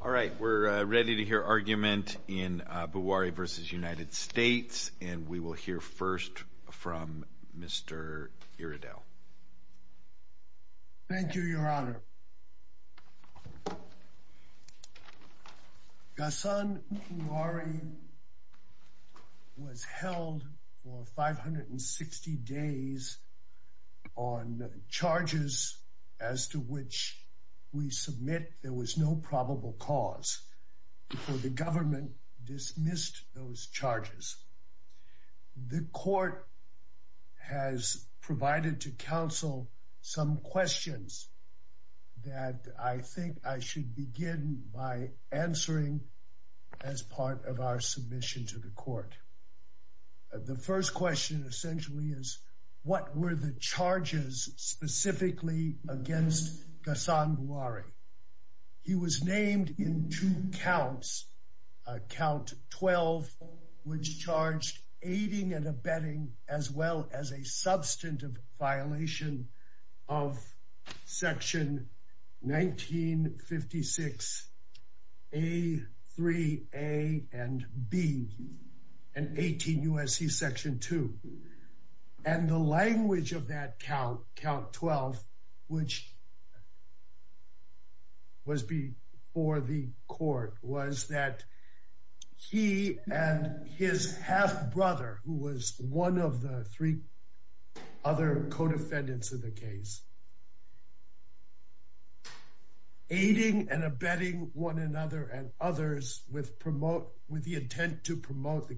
All right we're ready to hear argument in Bouari v. United States and we will hear first from Mr. Iredell. Thank you, Your Honor. Ghassan Bouari was held for 560 days on charges as to which we submit there was no probable cause before the government dismissed those charges. The court has provided to counsel some questions that I think I should begin by answering as part of our submission to the court. The first question essentially is what were the charges specifically against Ghassan Bouari. He was named in two counts. Count 12 which charged aiding and abetting as well as a substantive violation of section 1956 a 3 a and b and 18 USC section 2 and the language of that count count 12 which was before the court was that he and his half brother who was one of the three other co-defendants of the case aiding and abetting one another and others with promote with the intent to promote the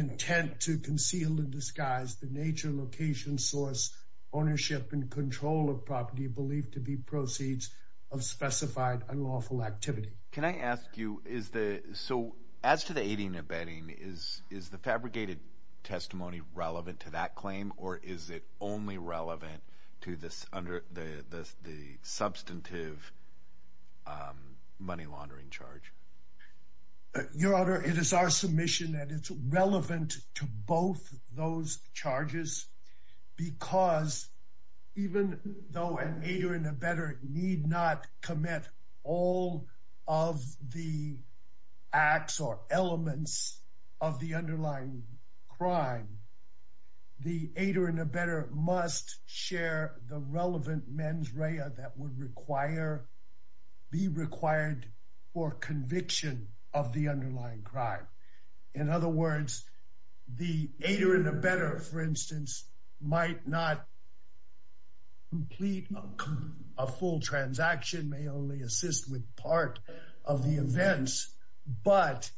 intent to conceal the disguise the nature location source ownership and control of property believed to be proceeds of specified unlawful activity. Can I ask you is the so as to the aiding and abetting is is the fabricated testimony relevant to that claim or is it only relevant to this under the the substantive money laundering charge? Your Honor it is our submission that it's relevant to both those charges because even though an aider and abetter need not commit all of the acts or elements of the underlying crime the aider and abetter must share the relevant mens rea that would require be required for the underlying crime. In other words the aider and abetter for instance might not complete a full transaction may only assist with part of the events but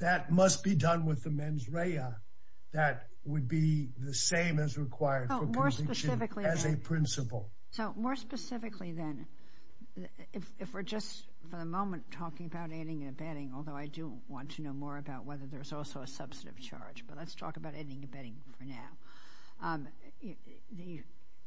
that must be done with the mens rea that would be the same as required for conviction as a principle. So more specifically then if we're just for the want to know more about whether there's also a substantive charge but let's talk about ending abetting for now.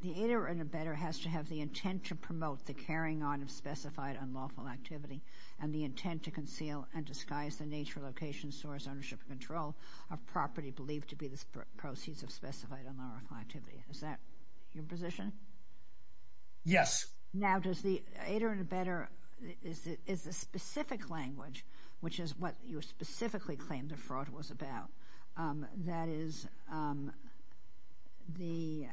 The aider and abetter has to have the intent to promote the carrying on of specified unlawful activity and the intent to conceal and disguise the nature location source ownership control of property believed to be the proceeds of specified unlawful activity. Is that your position? Yes. Now does the aider and abetter is it is a specific language which is what you specifically claimed the fraud was about that is the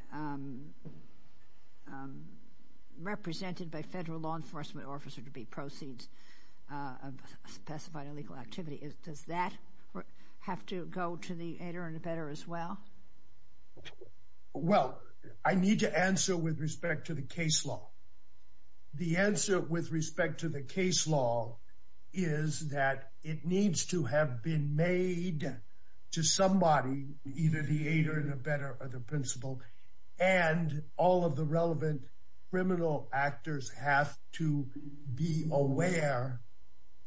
represented by federal law enforcement officer to be proceeds of specified illegal activity is does that have to go to the aider and abetter as well? Well I need to answer with respect to the case law. The answer with respect to the case law is that it needs to have been made to somebody either the aider and abetter or the principal and all of the relevant criminal actors have to be aware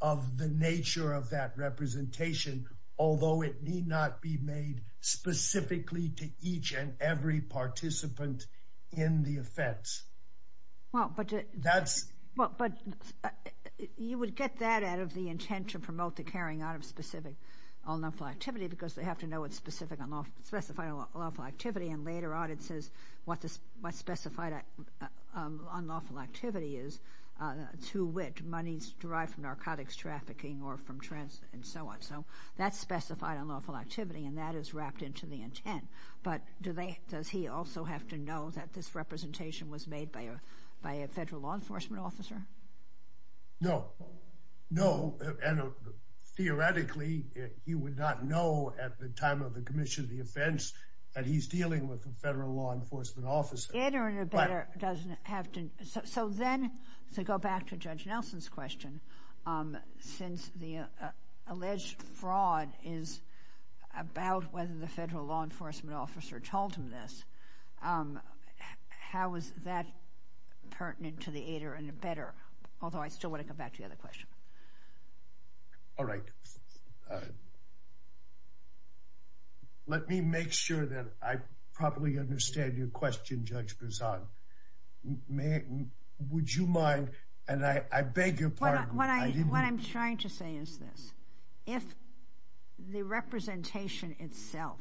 of the nature of that representation although it need not be made specifically to each and every participant in the offense. Well but that's well but you would get that out of the intent to promote the carrying out of specific unlawful activity because they have to know what specific unlawful specified unlawful activity and later on it says what this what specified unlawful activity is to which money's derived from narcotics trafficking or from trans and so on so that's specified unlawful activity and that is wrapped into the intent but do they does he also have to know that this representation was made by a by a federal law enforcement officer? No no and theoretically he would not know at the time of the Commission of the offense that he's dealing with a federal law enforcement officer. The aider and abetter doesn't have to so then to go back to Judge Nelson's question since the alleged fraud is about whether the federal law enforcement officer told him this how is that pertinent to the aider and abetter although I still want to come back to the other question. All right let me make sure that I probably understand your question Judge Berzon. Would you mind and I beg your pardon. What I'm trying to say is this if the representation itself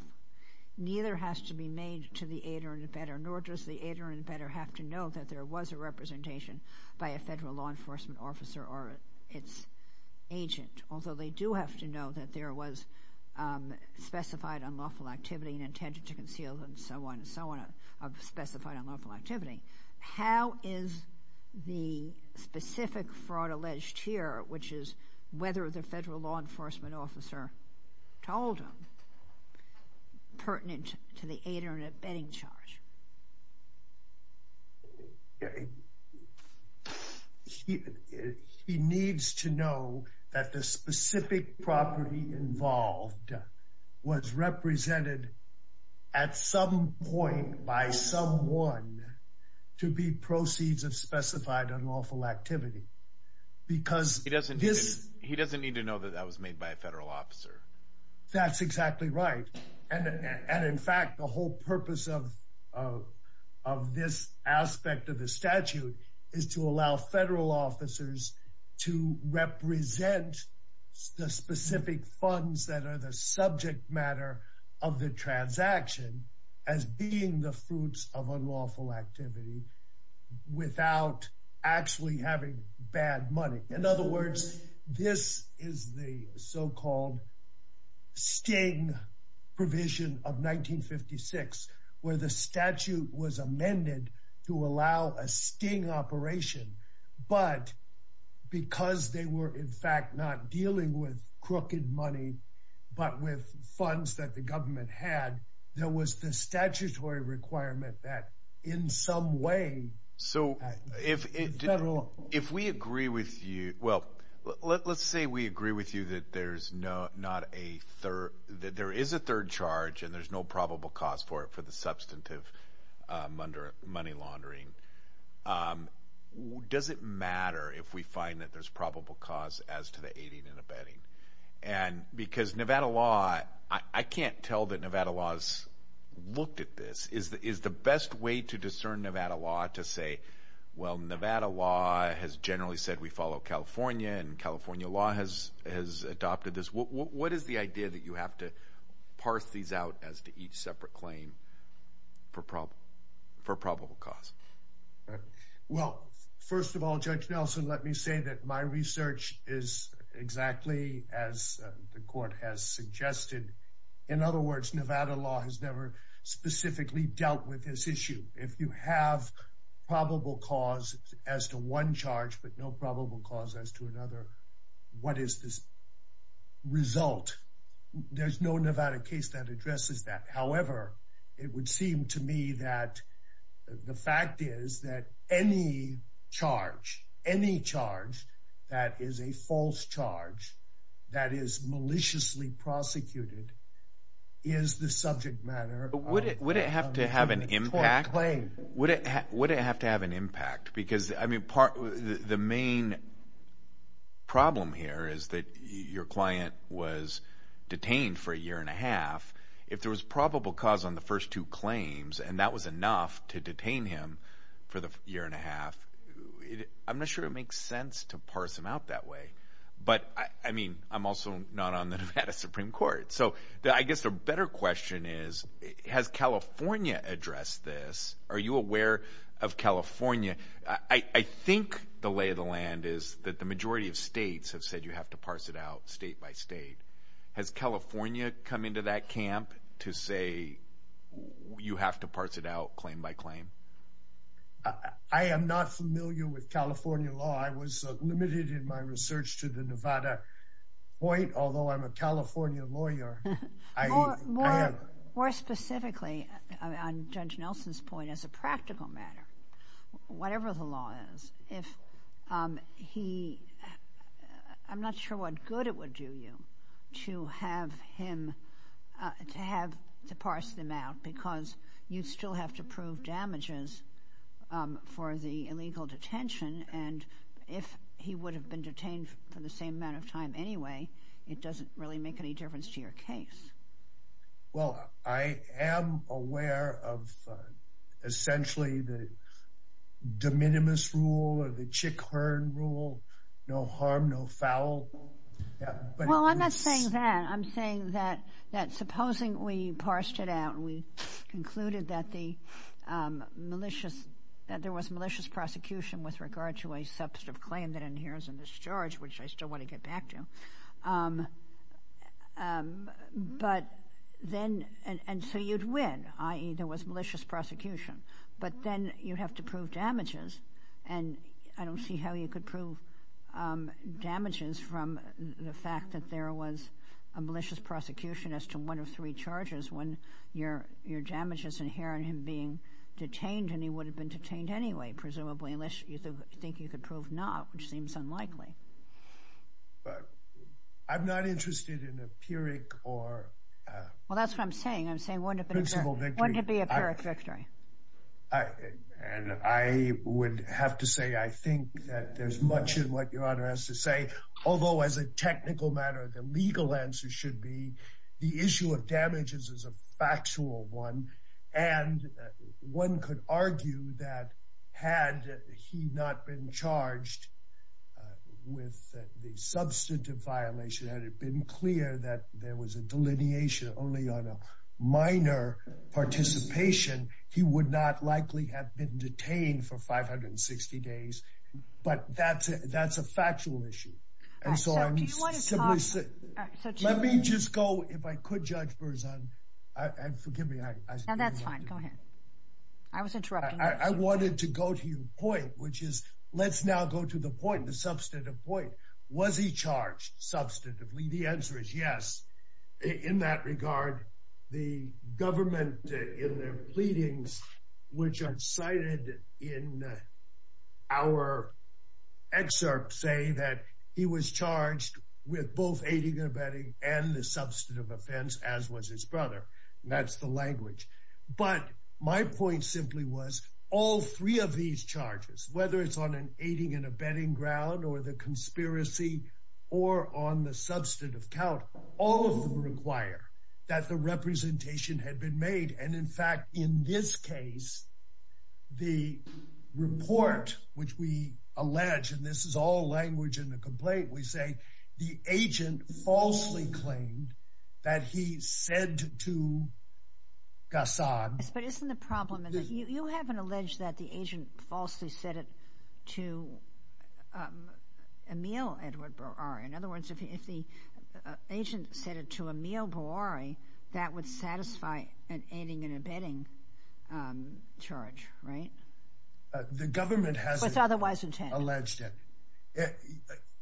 neither has to be made to the aider and abetter nor does the aider and abetter have to know that there was a representation by a federal law enforcement officer or its agent although they do have to know that there was specified unlawful activity and intended to conceal and so on and so on of specified unlawful activity how is the specific fraud alleged here which is whether the federal law enforcement officer told him pertinent to the aider and abetting charge? He needs to know that the specific property involved was represented at some point by someone to be proceeds of specified unlawful activity because he doesn't need to know that that was made by a federal officer. That's exactly right and in fact the whole purpose of this aspect of the statute is to allow federal officers to represent the funds that are the subject matter of the transaction as being the fruits of unlawful activity without actually having bad money. In other words this is the so-called sting provision of 1956 where the statute was amended to allow a but with funds that the government had there was the statutory requirement that in some way so if if we agree with you well let's say we agree with you that there's no not a third that there is a third charge and there's no probable cause for it for the substantive under money laundering. Does it matter if we probable cause as to the aiding and abetting and because Nevada law I can't tell that Nevada laws looked at this is that is the best way to discern Nevada law to say well Nevada law has generally said we follow California and California law has has adopted this what is the idea that you have to parse these out as to each separate claim for problem for probable cause? Well first of all Judge Nelson let me say that my research is exactly as the court has suggested in other words Nevada law has never specifically dealt with this issue if you have probable cause as to one charge but no probable cause as to another what is this result? There's no Nevada case that addresses that however it would seem to me that the fact is that any charge any charge that is a false charge that is maliciously prosecuted is the subject matter would it would it have to have an impact claim would it would it have to have an impact because I mean part the main problem here is that your client was detained for a year and a half if there was probable cause on the first two claims and that was enough to detain him for the year and a half I'm not sure it makes sense to parse them out that way but I mean I'm also not on the Nevada Supreme Court so that I guess a better question is has California addressed this are you aware of California I think the lay of the land is that the majority of states have said you have to parse it out state by state has California come into that camp to say you have to parse it out claim by claim? I am not familiar with California law I was limited in my research to the Nevada point although I'm a California lawyer. More specifically on Judge Nelson's point as a practical matter whatever the law is if he I'm not sure what good it would do you to have him to have to parse them out because you still have to prove damages for the illegal detention and if he would have been detained for the same amount of time anyway it doesn't really make any difference to your case. Well I am aware of essentially the de minimis rule or the Chick Hearn rule no harm no foul. Well I'm not saying that I'm saying that that supposing we parsed it out we concluded that the malicious that there was malicious prosecution with regard to a substantive claim that inheres in this charge which I still want to get back to but then and so you'd win ie there was malicious prosecution but then you have to prove damages and I don't see how you could prove damages from the fact that there was a malicious prosecution as to one of three charges when your your damage is inherent in being detained and he would have been detained anyway presumably unless you think you could prove not which seems unlikely. I'm not interested in a pyrrhic or well that's what I'm saying I'm saying wouldn't it be a pyrrhic victory. I would have to say I think that there's much in what your honor has to say although as a technical matter the legal answer should be the issue of damages is a factual one and one could argue that had he not been charged with the substantive violation had it been clear that there was a delineation only on a minor participation he would not likely have been detained for 560 days but that's it that's a factual issue and so let me just go if I could judge Burzon I wanted to go to your point which is let's now go to the point the substantive point was he charged substantively the answer is yes in that regard the government in their pleadings which are cited in our excerpt say that he was charged with both aiding and abetting and the substantive offense as was his brother that's the language but my point simply was all three of these charges whether it's on an aiding and abetting ground or the conspiracy or on the substantive count all of them require that the representation had been made and in fact in this case the report which we allege and this is all language in the complaint we say the agent falsely claimed that he said to Gassan but isn't the problem is that you haven't alleged that the agent falsely said it to Emil Edward Barari in other words if he if the agent said it to Emil Barari that would satisfy an aiding and abetting charge right the government has otherwise alleged it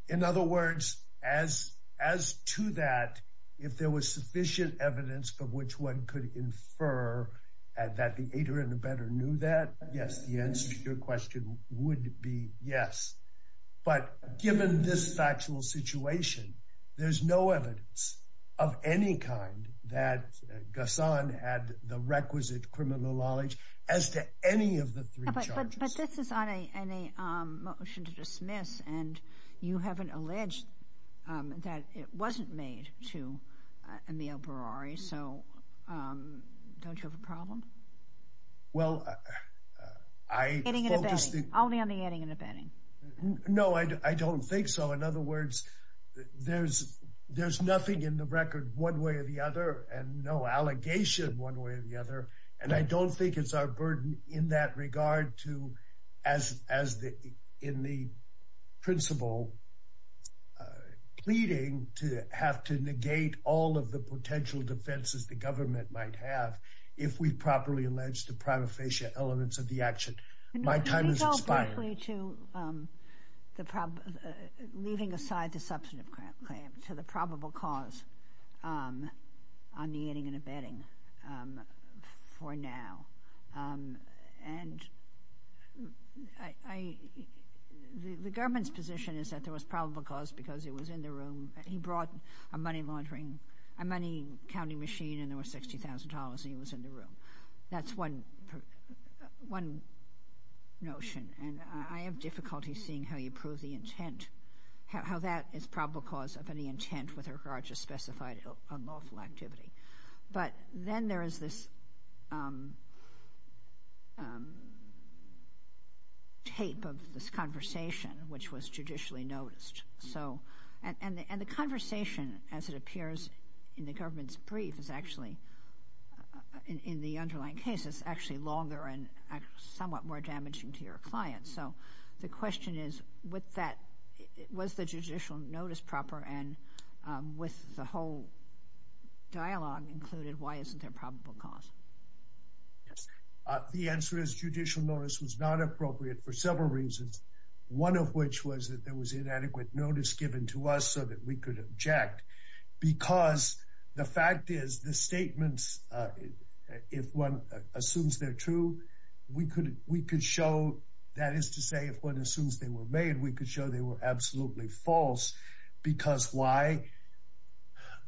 in other words as as to that if there was sufficient evidence for which one could infer that the aider and abetter knew that yes the answer to your question would be yes but given this factual situation there's no evidence of any kind that Gassan had the requisite criminal knowledge as to any of the three charges. But this is on a motion to dismiss and you haven't alleged that it wasn't made to Emil Barari so don't you have a problem? Well I only on the adding and abetting. No I don't think so in other words there's there's nothing in the record one way or the other and no allegation one way or the other and I don't think it's our burden in that regard to as as the in the principle pleading to have to negate all of the if we properly allege the prima facie elements of the action. My time is expired. Leaving aside the substantive claim to the probable cause on the aiding and abetting for now and I the government's position is that there was probable cause because it was in the room he brought a money laundering a money counting machine and there was $60,000 he was in the room. That's one one notion and I have difficulty seeing how you prove the intent how that is probable cause of any intent with regards to specified unlawful activity. But then there is this tape of this conversation which was judicially noticed so and and the conversation as it appears in the government's brief is actually in the underlying case it's actually longer and somewhat more damaging to your client. So the question is with that was the judicial notice proper and with the whole dialogue included why isn't there probable cause? The answer is judicial notice was not appropriate for several reasons. One of which was that there was inadequate notice given to us so that we could object because the fact is the statements if one assumes they're true we could we could show that is to say if one assumes they were made we could show they were absolutely false because why?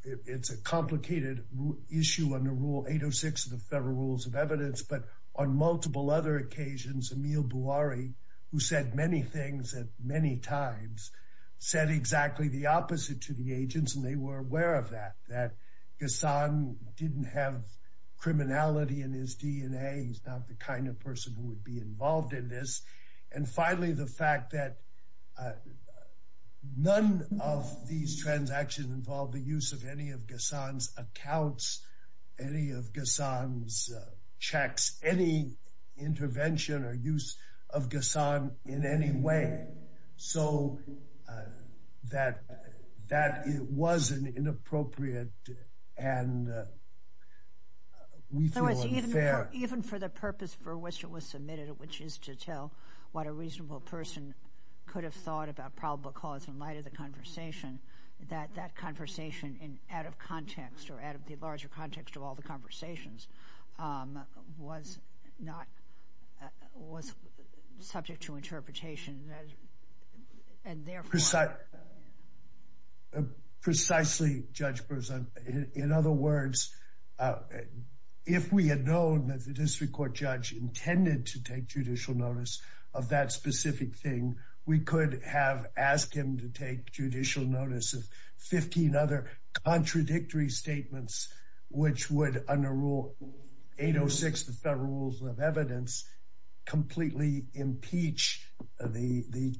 It's a complicated issue under rule 806 of the Federal Rules of Evidence but on multiple other occasions Emil Buari who said many things at many times said exactly the opposite to the agents and they were aware of that that Ghassan didn't have criminality in his DNA he's not the kind of person who would be involved in this and finally the fact that none of these transactions involved the use of any of Ghassan's accounts any of Ghassan's checks any intervention or use of Ghassan in any way so that that it was an inappropriate and even for the purpose for which it was submitted which is to tell what a reasonable person could have thought about probable cause in light of the conversation that that conversation in out of context or out of the larger context of all the conversations was not was subject to interpretation and therefore... Precisely Judge Berzon in other words if we had known that the district court judge intended to take judicial notice of that specific thing we could have asked him to take judicial notice of 15 other contradictory statements which would under rule 806 the Federal Rules of Evidence completely impeach the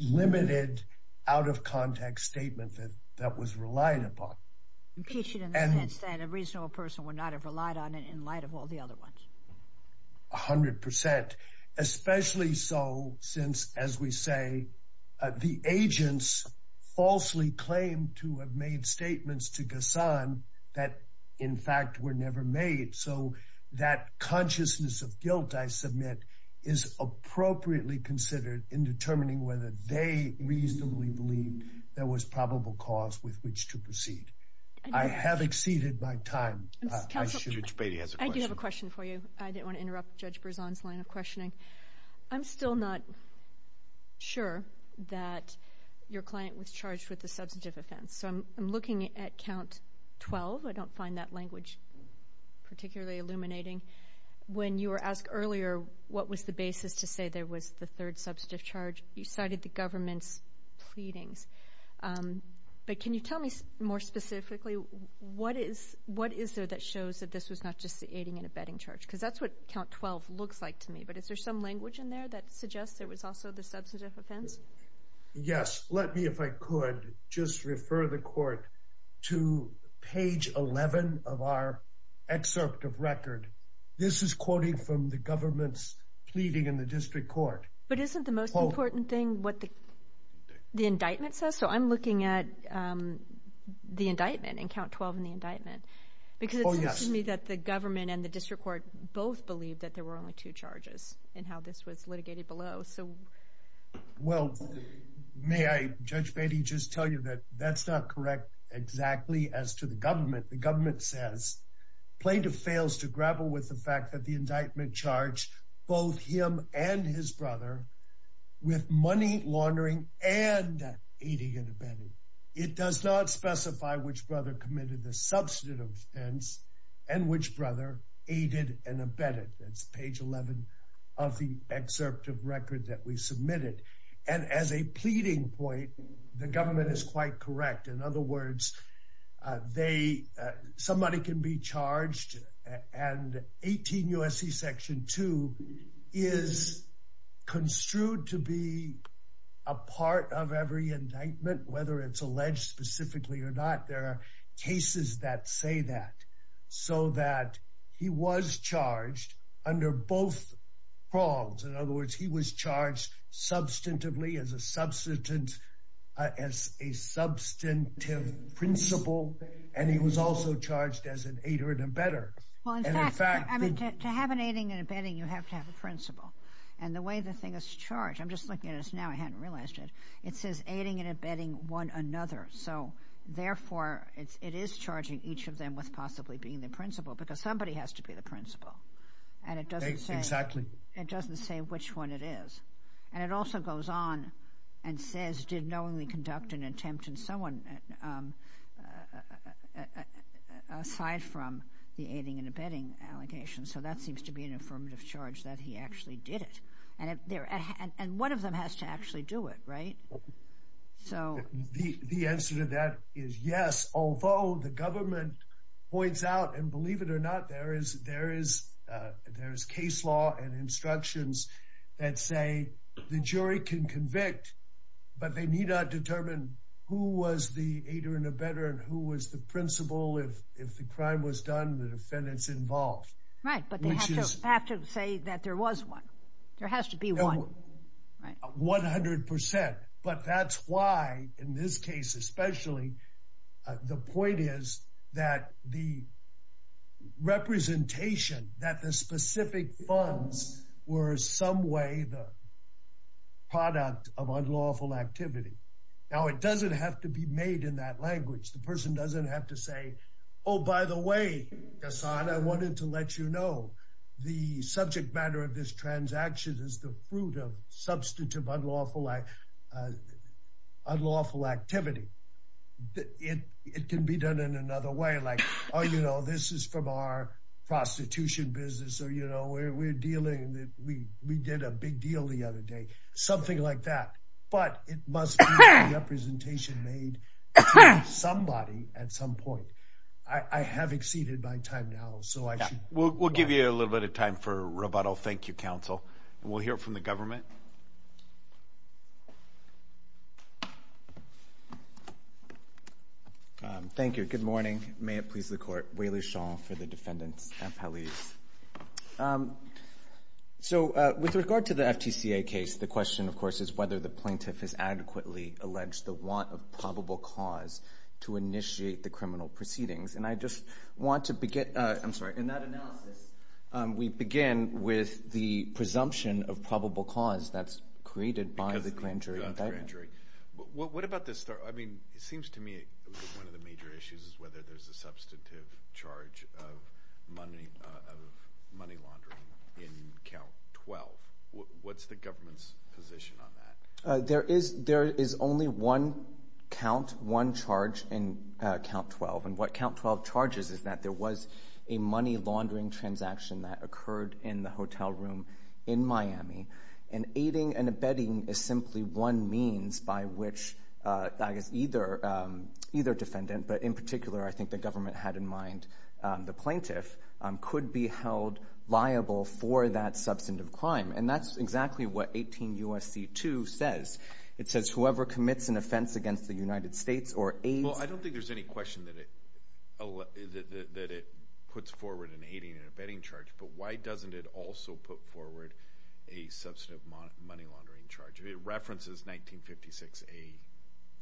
limited out of context statement that that was relied upon. Impeach it in the sense that a reasonable person would not have relied on it in light of all the other ones. A hundred percent especially so since as we say the agents falsely claimed to have made statements to Ghassan that in fact were never made so that consciousness of guilt I submit is appropriately considered in determining whether they reasonably believe there was probable cause with which to proceed. I have exceeded my time. I do have a question for you. I didn't want to interrupt Judge Berzon's line of questioning. I'm still not sure that your I'm looking at count 12. I don't find that language particularly illuminating. When you were asked earlier what was the basis to say there was the third substantive charge you cited the government's pleadings but can you tell me more specifically what is what is there that shows that this was not just the aiding and abetting charge because that's what count 12 looks like to me but is there some language in there that suggests there was also the substantive offense? Yes let me if I could just refer the court to page 11 of our excerpt of record. This is quoting from the government's pleading in the district court. But isn't the most important thing what the the indictment says so I'm looking at the indictment in count 12 in the indictment because it's me that the government and the district court both believe that there were only two charges and how this was litigated below so. Well may I Judge Beatty just tell you that that's not correct exactly as to the government. The government says plaintiff fails to grapple with the fact that the indictment charged both him and his brother with money laundering and aiding and abetting. It does not specify which brother committed the substantive offense and which brother aided and abetting. That's what's in page 11 of the excerpt of record that we submitted. And as a pleading point the government is quite correct. In other words they somebody can be charged and 18 USC section 2 is construed to be a part of every indictment whether it's alleged specifically or not there are cases that say that. So that he was charged under both wrongs in other words he was charged substantively as a substantive as a substantive principle and he was also charged as an aider and abetter. Well in fact to have an aiding and abetting you have to have a principle and the way the thing is charged I'm just looking at us now I hadn't realized it it says aiding and abetting one another so therefore it is charging each of them with possibly being the principal because somebody has to be the principal and it doesn't say exactly it doesn't say which one it is and it also goes on and says did knowingly conduct an attempt and so on aside from the aiding and abetting allegations so that seems to be an affirmative charge that he actually did it and if there and one of them has to actually do it right. So the answer to that is yes although the government points out and believe it or not there is there is there's case law and instructions that say the jury can convict but they need not determine who was the aider and abetter and who was the principal if if the crime was done the defendants involved. Right but they have to say that there was one there has to be one. 100% but that's why in this case especially the point is that the representation that the specific funds were some way the product of unlawful activity. Now it doesn't have to be made in that language the person doesn't have to say oh by the way Hassan I wanted to let you know the subject matter of this transaction is the fruit of substantive unlawful act unlawful activity. It can be done in another way like oh you know this is from our prostitution business or you know we're dealing that we we did a big deal the other day something like that but it must be representation made somebody at some point. I have exceeded my time now so I will give you a little bit of time for rebuttal thank you counsel and we'll hear from the government. Thank you good morning may it please the court Wayler Sean for the defendants appellees. So with regard to the FTCA case the question of course is whether the plaintiff has adequately alleged the want of probable cause to initiate the criminal proceedings and I just want to begin I'm sorry in that analysis we begin with the presumption of probable cause that's created by the grand jury what about this I mean it seems to me one of the major issues is whether there's a substantive charge of money of money laundering in count 12 what's the government's position on that? There is there is only one count one charge in count 12 and what count 12 charges is that there was a money laundering transaction that occurred in the hotel room in Miami and aiding and abetting is simply one means by which either either defendant but in particular I think the government had in mind the plaintiff could be held liable for that substantive crime and that's exactly what 18 USC 2 says it says whoever commits an offense against the United States or a well I don't think there's any question that it that it puts forward in aiding and abetting charge but why doesn't it also put forward a substantive money laundering charge it references 1956 a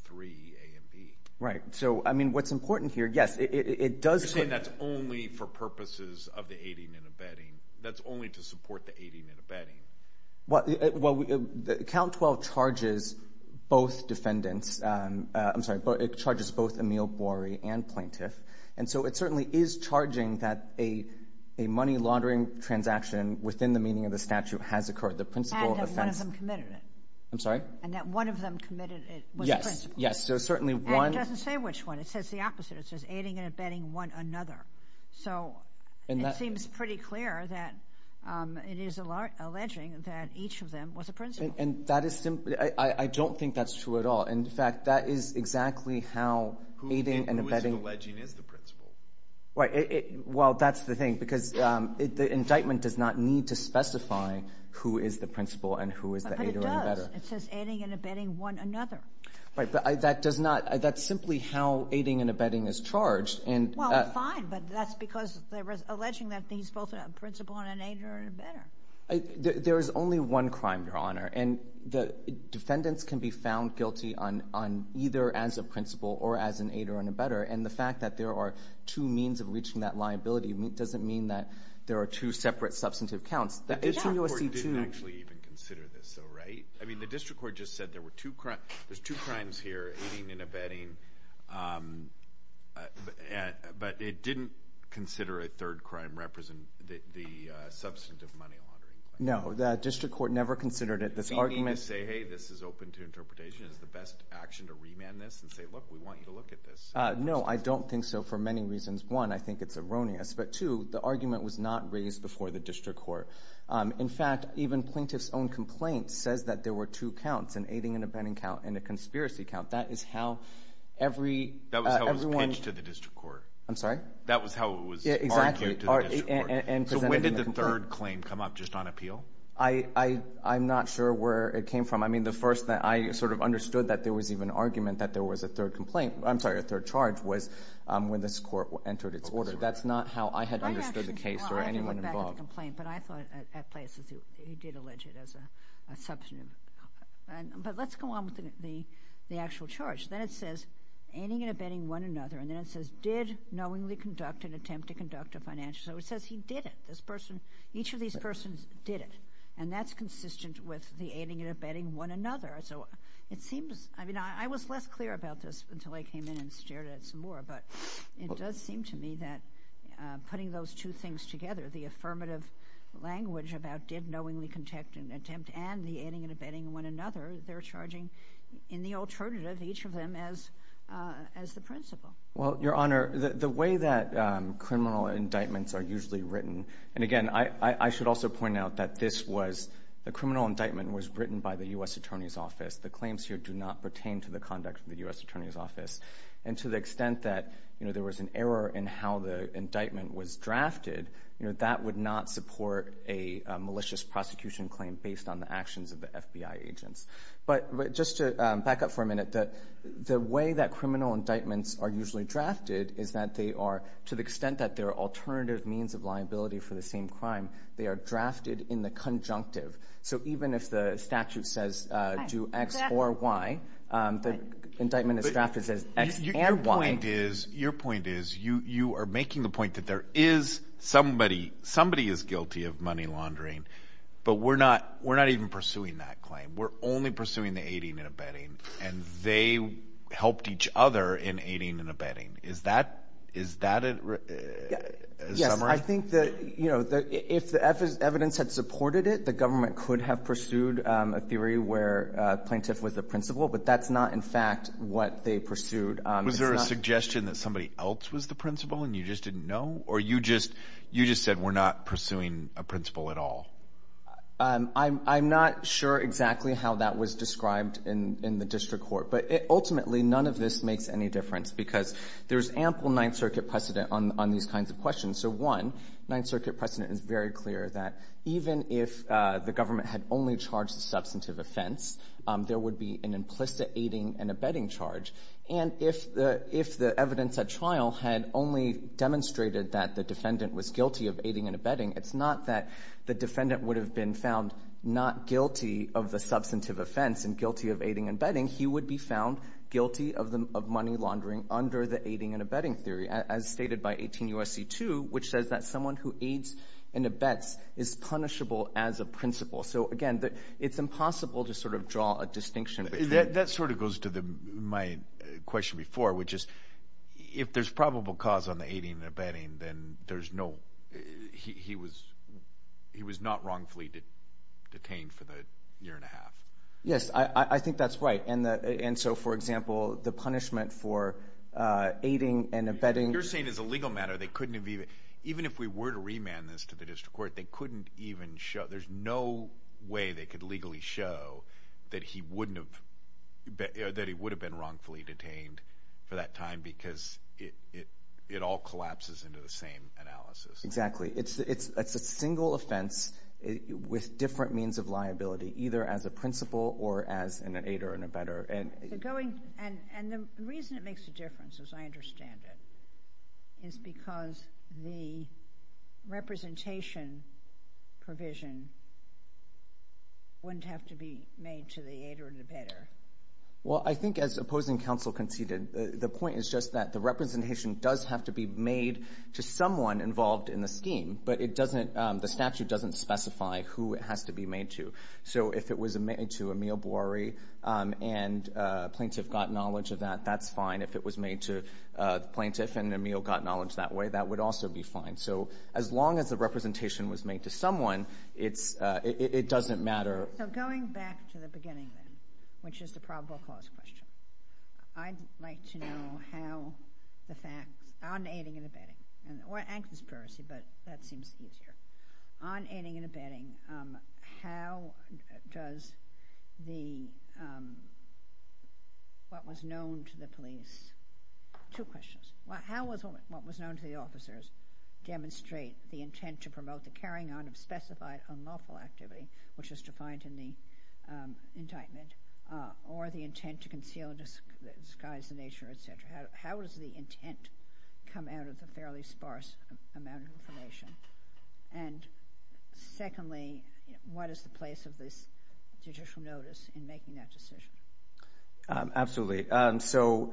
3 a and B right so I mean what's important here yes it does say that's only for purposes of the aiding and abetting that's only to support the aiding and abetting what well the count 12 charges both defendants I'm sorry but it charges both Emil Borey and plaintiff and so it certainly is charging that a a money laundering transaction within the meaning of the statute has occurred the principal I'm sorry and that one of them committed it yes yes so certainly one doesn't say which one it says the opposite it says aiding and abetting one another so and that seems pretty clear that it is a large alleging that each of them was a prince and that is simply I don't think that's true at all in fact that is exactly how aiding and abetting is the principal right well that's the thing because it the indictment does not need to specify who is the principal and who is the aiding and abetting one another right but I that does not that's simply how aiding and abetting is charged and that's fine but that's because there was alleging that these both a principal and an aid or better there is only one crime your honor and the defendants can be found guilty on on either as a principal or as an aid or an abetter and the fact that there are two means of reaching that liability doesn't mean that there are two separate substantive counts that it's in USC to actually even consider this so right I mean the district court just said there were two crime there's two crimes here aiding and abetting but it didn't consider a third crime represent the substantive money no the district court never considered it this argument say hey this is open to interpretation is the best action to remand this and say look we want you to look at this no I don't think so for many reasons one I think it's erroneous but to the argument was not raised before the district court in fact even plaintiff's own complaint says that there were two counts and aiding and abetting count in a conspiracy count that is how every everyone to the district court I'm sorry that was how it was exactly and presented the third claim come up just on appeal I I'm not sure where it came from I mean the first that I sort of understood that there was even argument that there was a third complaint I'm sorry a third charge was when this court entered its order that's not how I had understood the case or anyone involved but I thought at places you did allege it as a substantive but let's go on with the the actual charge then it says aiding and abetting one another and then it says did knowingly conduct an attempt to conduct a financial so it says he did it this person each of these persons did it and that's consistent with the aiding and abetting one another so it seems I mean I was less clear about this until I came in and stared at some more but it does seem to me that putting those two things together the affirmative language about did knowingly contact an attempt and the aiding and abetting one another they're charging in the alternative each of them as as the principal well your honor the way that criminal indictments are usually written and again I I should also point out that this was the criminal indictment was written by the U.S. Attorney's Office the claims here do not pertain to the conduct of the U.S. Attorney's Office and to the extent that you know there was an error in how the indictment was drafted you know that would not support a malicious prosecution claim based on the actions of the FBI agents but just to back up for a minute that the way that criminal indictments are usually drafted is that they are to the extent that their alternative means of liability for the same crime they are drafted in the conjunctive so even if the statute says do X or Y the indictment is drafted as X and Y. Your point is your point is you you are making the point that there is somebody somebody is guilty of money laundering but we're not we're not even pursuing that claim we're only pursuing the aiding and abetting and they helped each other in aiding and abetting is that is that it yes I think that you know that if the F is evidence had supported it the government could have pursued a theory where plaintiff was a principal but that's not in fact what they pursued was there a suggestion that somebody else was the principal and you just didn't know or you just you just said we're not pursuing a principal at all I'm not sure exactly how that was described in in the district court but it ultimately none of this makes any difference because there's ample Ninth Circuit precedent on these kinds of if the government had only charged the substantive offense there would be an implicit aiding and abetting charge and if the if the evidence at trial had only demonstrated that the defendant was guilty of aiding and abetting it's not that the defendant would have been found not guilty of the substantive offense and guilty of aiding and abetting he would be found guilty of the money laundering under the aiding and abetting theory as stated by 18 USC 2 which says that someone who aids and abets is punishable as a principal so again that it's impossible to sort of draw a distinction that sort of goes to the my question before which is if there's probable cause on the aiding and abetting then there's no he was he was not wrongfully detained for the year and a half yes I I think that's right and that and so for example the punishment for aiding and abetting you're saying is a legal matter they couldn't even even if we were to remand this to the district court they couldn't even show there's no way they could legally show that he wouldn't have that he would have been wrongfully detained for that time because it it it all collapses into the same analysis exactly it's it's it's a single offense with different means of liability either as a principal or as an aider and a better and going and and the reason it makes a difference as I understand it is because the representation provision wouldn't have to be made to the aid or the better well I think as opposing counsel conceded the point is just that the representation does have to be made to someone involved in the scheme but it doesn't the statute doesn't specify who it has to be made to so if it was a minute to Emil Borey and plaintiff got knowledge of that that's fine if it was made to plaintiff and Emil got knowledge that way that would also be fine so as long as the representation was made to someone it's it doesn't matter which is the probable cause question I'd like to know how the facts on aiding and abetting and or an conspiracy but that seems easier on aiding and abetting how does the what was known to the police two questions well how was what was known to the officers demonstrate the intent to promote the carrying on of specified unlawful activity which is defined in the indictment or the intent to conceal and disguise the nature etc how does the intent come out of the place of this judicial notice in making that decision absolutely so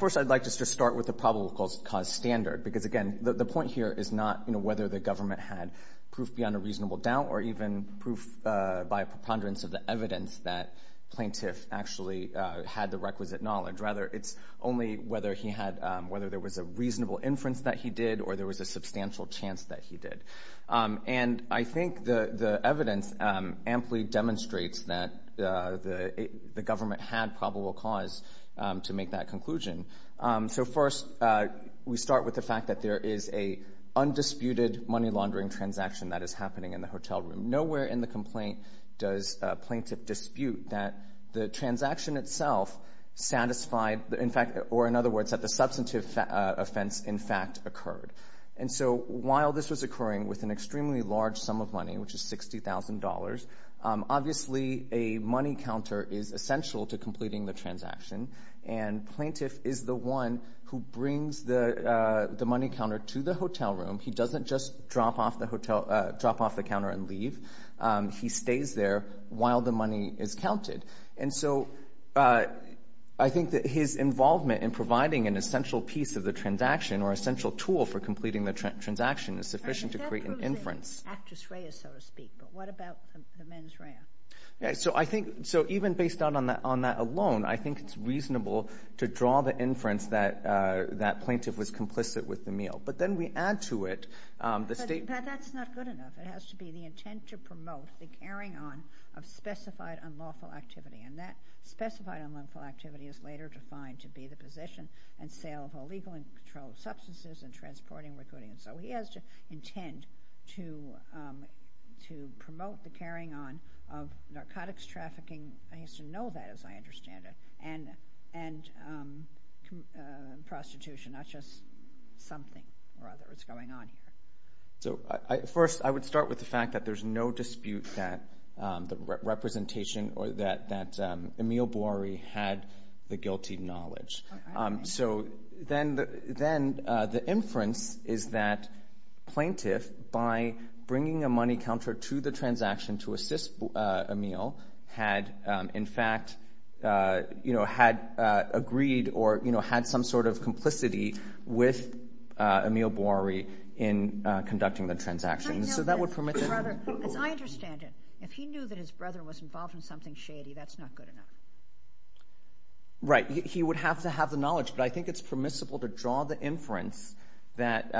first I'd like just to start with the probable cause standard because again the point here is not you know whether the government had proof beyond a reasonable doubt or even proof by a preponderance of the evidence that plaintiff actually had the requisite knowledge rather it's only whether he had whether there was a reasonable inference that he did or there was a substantial chance that he did and I think the the evidence amply demonstrates that the government had probable cause to make that conclusion so first we start with the fact that there is a undisputed money laundering transaction that is happening in the hotel room nowhere in the complaint does plaintiff dispute that the transaction itself satisfied in fact or in other words that the substantive offense in fact occurred and so while this was occurring with an extremely large sum of money which is $60,000 obviously a money counter is essential to completing the transaction and plaintiff is the one who brings the the money counter to the hotel room he doesn't just drop off the hotel drop off the counter and leave he stays there while the money is counted and so I think that his involvement in our central tool for completing the transaction is sufficient to create an inference so I think so even based on that on that alone I think it's reasonable to draw the inference that that plaintiff was complicit with the meal but then we add to it the state that's not good enough it has to be the intent to promote the carrying on of specified unlawful activity and that specified unlawful activity is later defined to be the position and sale of substances and transporting recruiting and so he has to intend to to promote the carrying on of narcotics trafficking I used to know that as I understand it and and prostitution not just something rather it's going on so I first I would start with the fact that there's no dispute that the representation or that that Emil Borey had the guilty knowledge so then then the inference is that plaintiff by bringing a money counter to the transaction to assist Emil had in fact you know had agreed or you know had some sort of complicity with Emil Borey in conducting the transaction so that would permit as I understand it if he knew that his brother was involved in something shady that's not good enough right he would have to have the knowledge but I think it's permissible to draw the inference that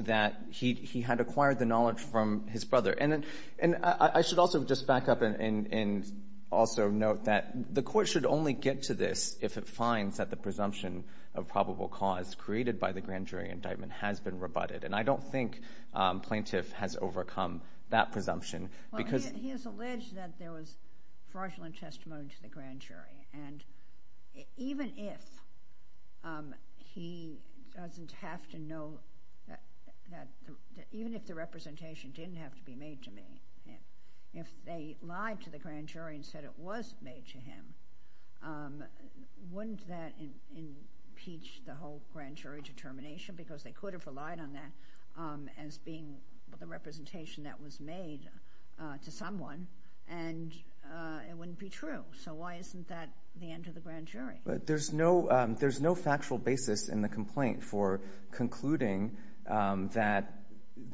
that he had acquired the knowledge from his brother and and I should also just back up and also note that the court should only get to this if it finds that the presumption of probable cause created by the grand jury indictment has been rebutted and I don't think plaintiff has overcome that presumption because there was fraudulent testimony to the grand jury and even if he doesn't have to know that even if the representation didn't have to be made to me if they lied to the grand jury and said it was made to him wouldn't that impeach the whole grand jury determination because they could have relied on that as being the representation that was made to someone and it wouldn't be true so why isn't that the end of the grand jury but there's no there's no factual basis in the complaint for concluding that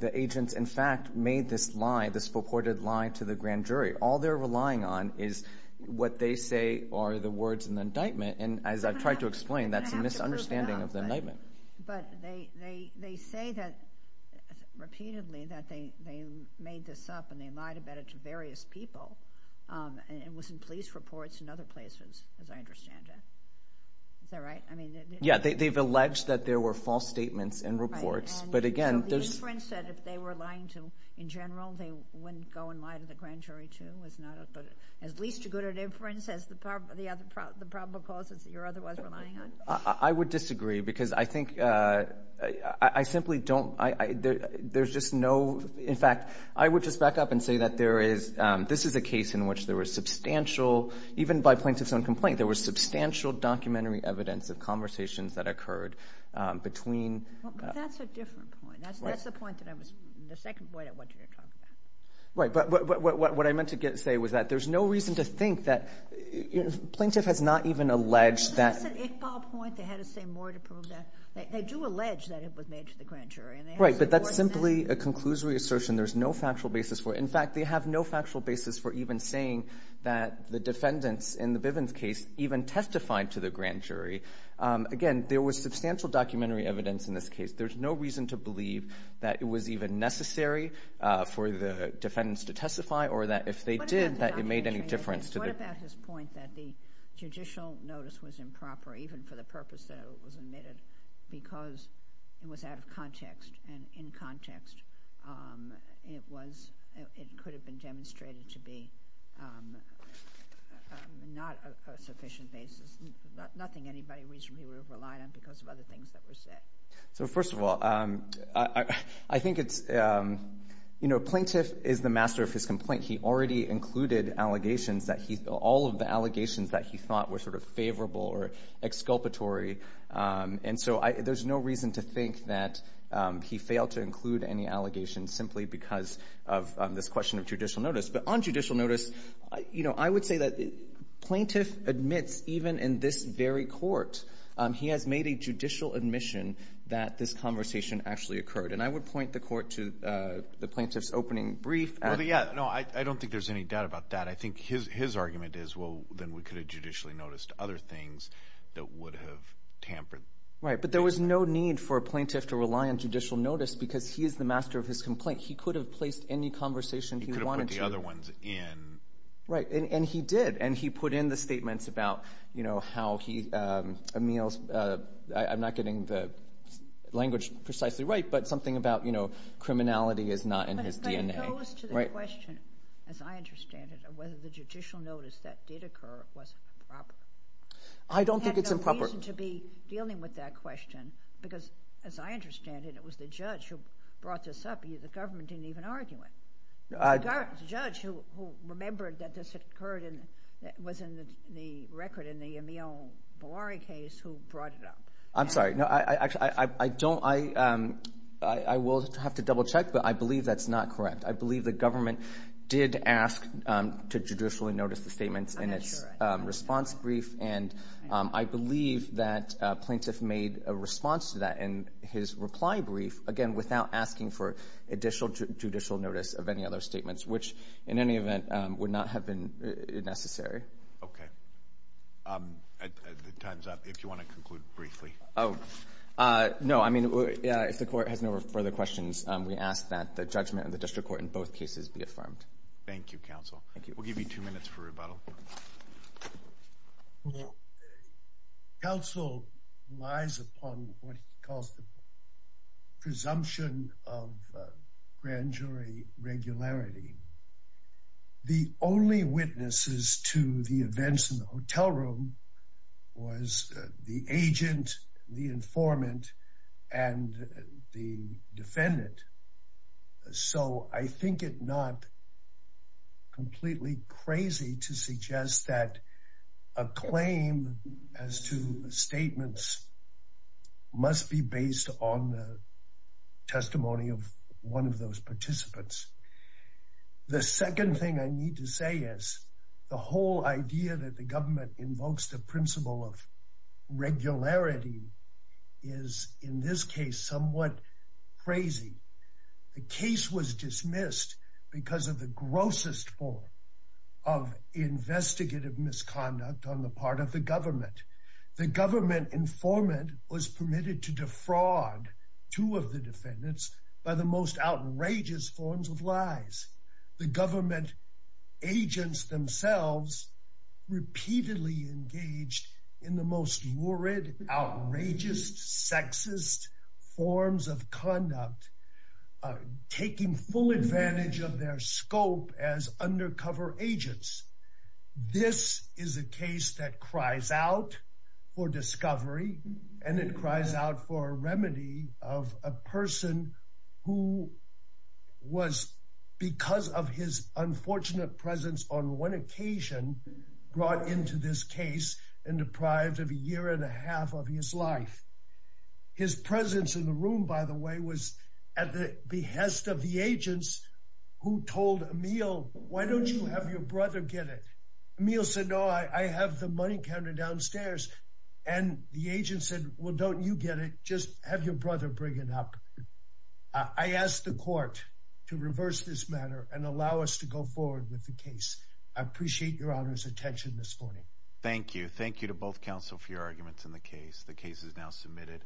the agents in fact made this lie this purported lie to the grand jury all they're relying on is what they say are the words in the indictment and as I've tried to explain that's a misunderstanding of the indictment. But they say that repeatedly that they made this up and they lied about it to various people and it was in police reports in other places as I understand it. Is that right? I mean yeah they've alleged that there were false statements in reports but again there's... So the inference that if they were lying to in general they wouldn't go and lie to the grand jury too is not at least as good an inference as the probable causes that you're I would disagree because I think I simply don't I there's just no in fact I would just back up and say that there is this is a case in which there was substantial even by plaintiffs own complaint there was substantial documentary evidence of conversations that occurred between... But that's a different point. That's the point that I was... the second point I wanted you to talk about. Right but what I meant to get say was that there's no reason to think that plaintiff has not even alleged that... They do allege that it was made to the grand jury. Right but that's simply a conclusory assertion there's no factual basis for it. In fact they have no factual basis for even saying that the defendants in the Bivens case even testified to the grand jury. Again there was substantial documentary evidence in this case. There's no reason to believe that it was even necessary for the that the judicial notice was improper even for the purpose that it was admitted because it was out of context and in context it was it could have been demonstrated to be not a sufficient basis. Nothing anybody reasonably would have relied on because of other things that were said. So first of all I think it's you know plaintiff is the master of his allegations that he thought were sort of favorable or exculpatory and so I there's no reason to think that he failed to include any allegations simply because of this question of judicial notice. But on judicial notice you know I would say that the plaintiff admits even in this very court he has made a judicial admission that this conversation actually occurred and I would point the court to the plaintiff's opening brief. No I don't think there's any doubt about that. I think his his argument is well then we could have judicially noticed other things that would have tampered. Right but there was no need for a plaintiff to rely on judicial notice because he is the master of his complaint. He could have placed any conversation he wanted to. He could have put the other ones in. Right and he did and he put in the statements about you know how he Emile's I'm not getting the language precisely right but something about you know whether the judicial notice that did occur was improper. I don't think it's improper. To be dealing with that question because as I understand it it was the judge who brought this up you the government didn't even argue it. The judge who remembered that this occurred in that was in the record in the Emile Bollari case who brought it up. I'm sorry no I actually I don't I I will have to double-check but I believe that's not correct. I believe the plaintiff did not ask to judicially notice the statements in its response brief and I believe that plaintiff made a response to that in his reply brief again without asking for additional judicial notice of any other statements which in any event would not have been necessary. Okay if you want to conclude briefly. Oh no I mean if the court has no further questions we ask that the judgment of the district court in both cases be affirmed. Thank you counsel. Thank you. We'll give you two minutes for rebuttal. Counsel relies upon what he calls the presumption of grand jury regularity. The only witnesses to the events in the hotel room was the I think it not completely crazy to suggest that a claim as to statements must be based on the testimony of one of those participants. The second thing I need to say is the whole idea that the government invokes the principle of regularity is in this somewhat crazy. The case was dismissed because of the grossest form of investigative misconduct on the part of the government. The government informant was permitted to defraud two of the defendants by the most outrageous forms of lies. The government agents themselves repeatedly engaged in the most forms of conduct taking full advantage of their scope as undercover agents. This is a case that cries out for discovery and it cries out for a remedy of a person who was because of his unfortunate presence on one occasion brought into this case and deprived of a year and a half of his life. His presence in the room, by the way, was at the behest of the agents who told Emil, Why don't you have your brother get it? Emil said, No, I have the money counter downstairs. And the agent said, Well, don't you get it? Just have your brother bring it up. I asked the court to reverse this matter and allow us to go forward with the case. I appreciate your honor's attention this morning. Thank you. Thank you to both counsel for your arguments in the case. The case is now submitted.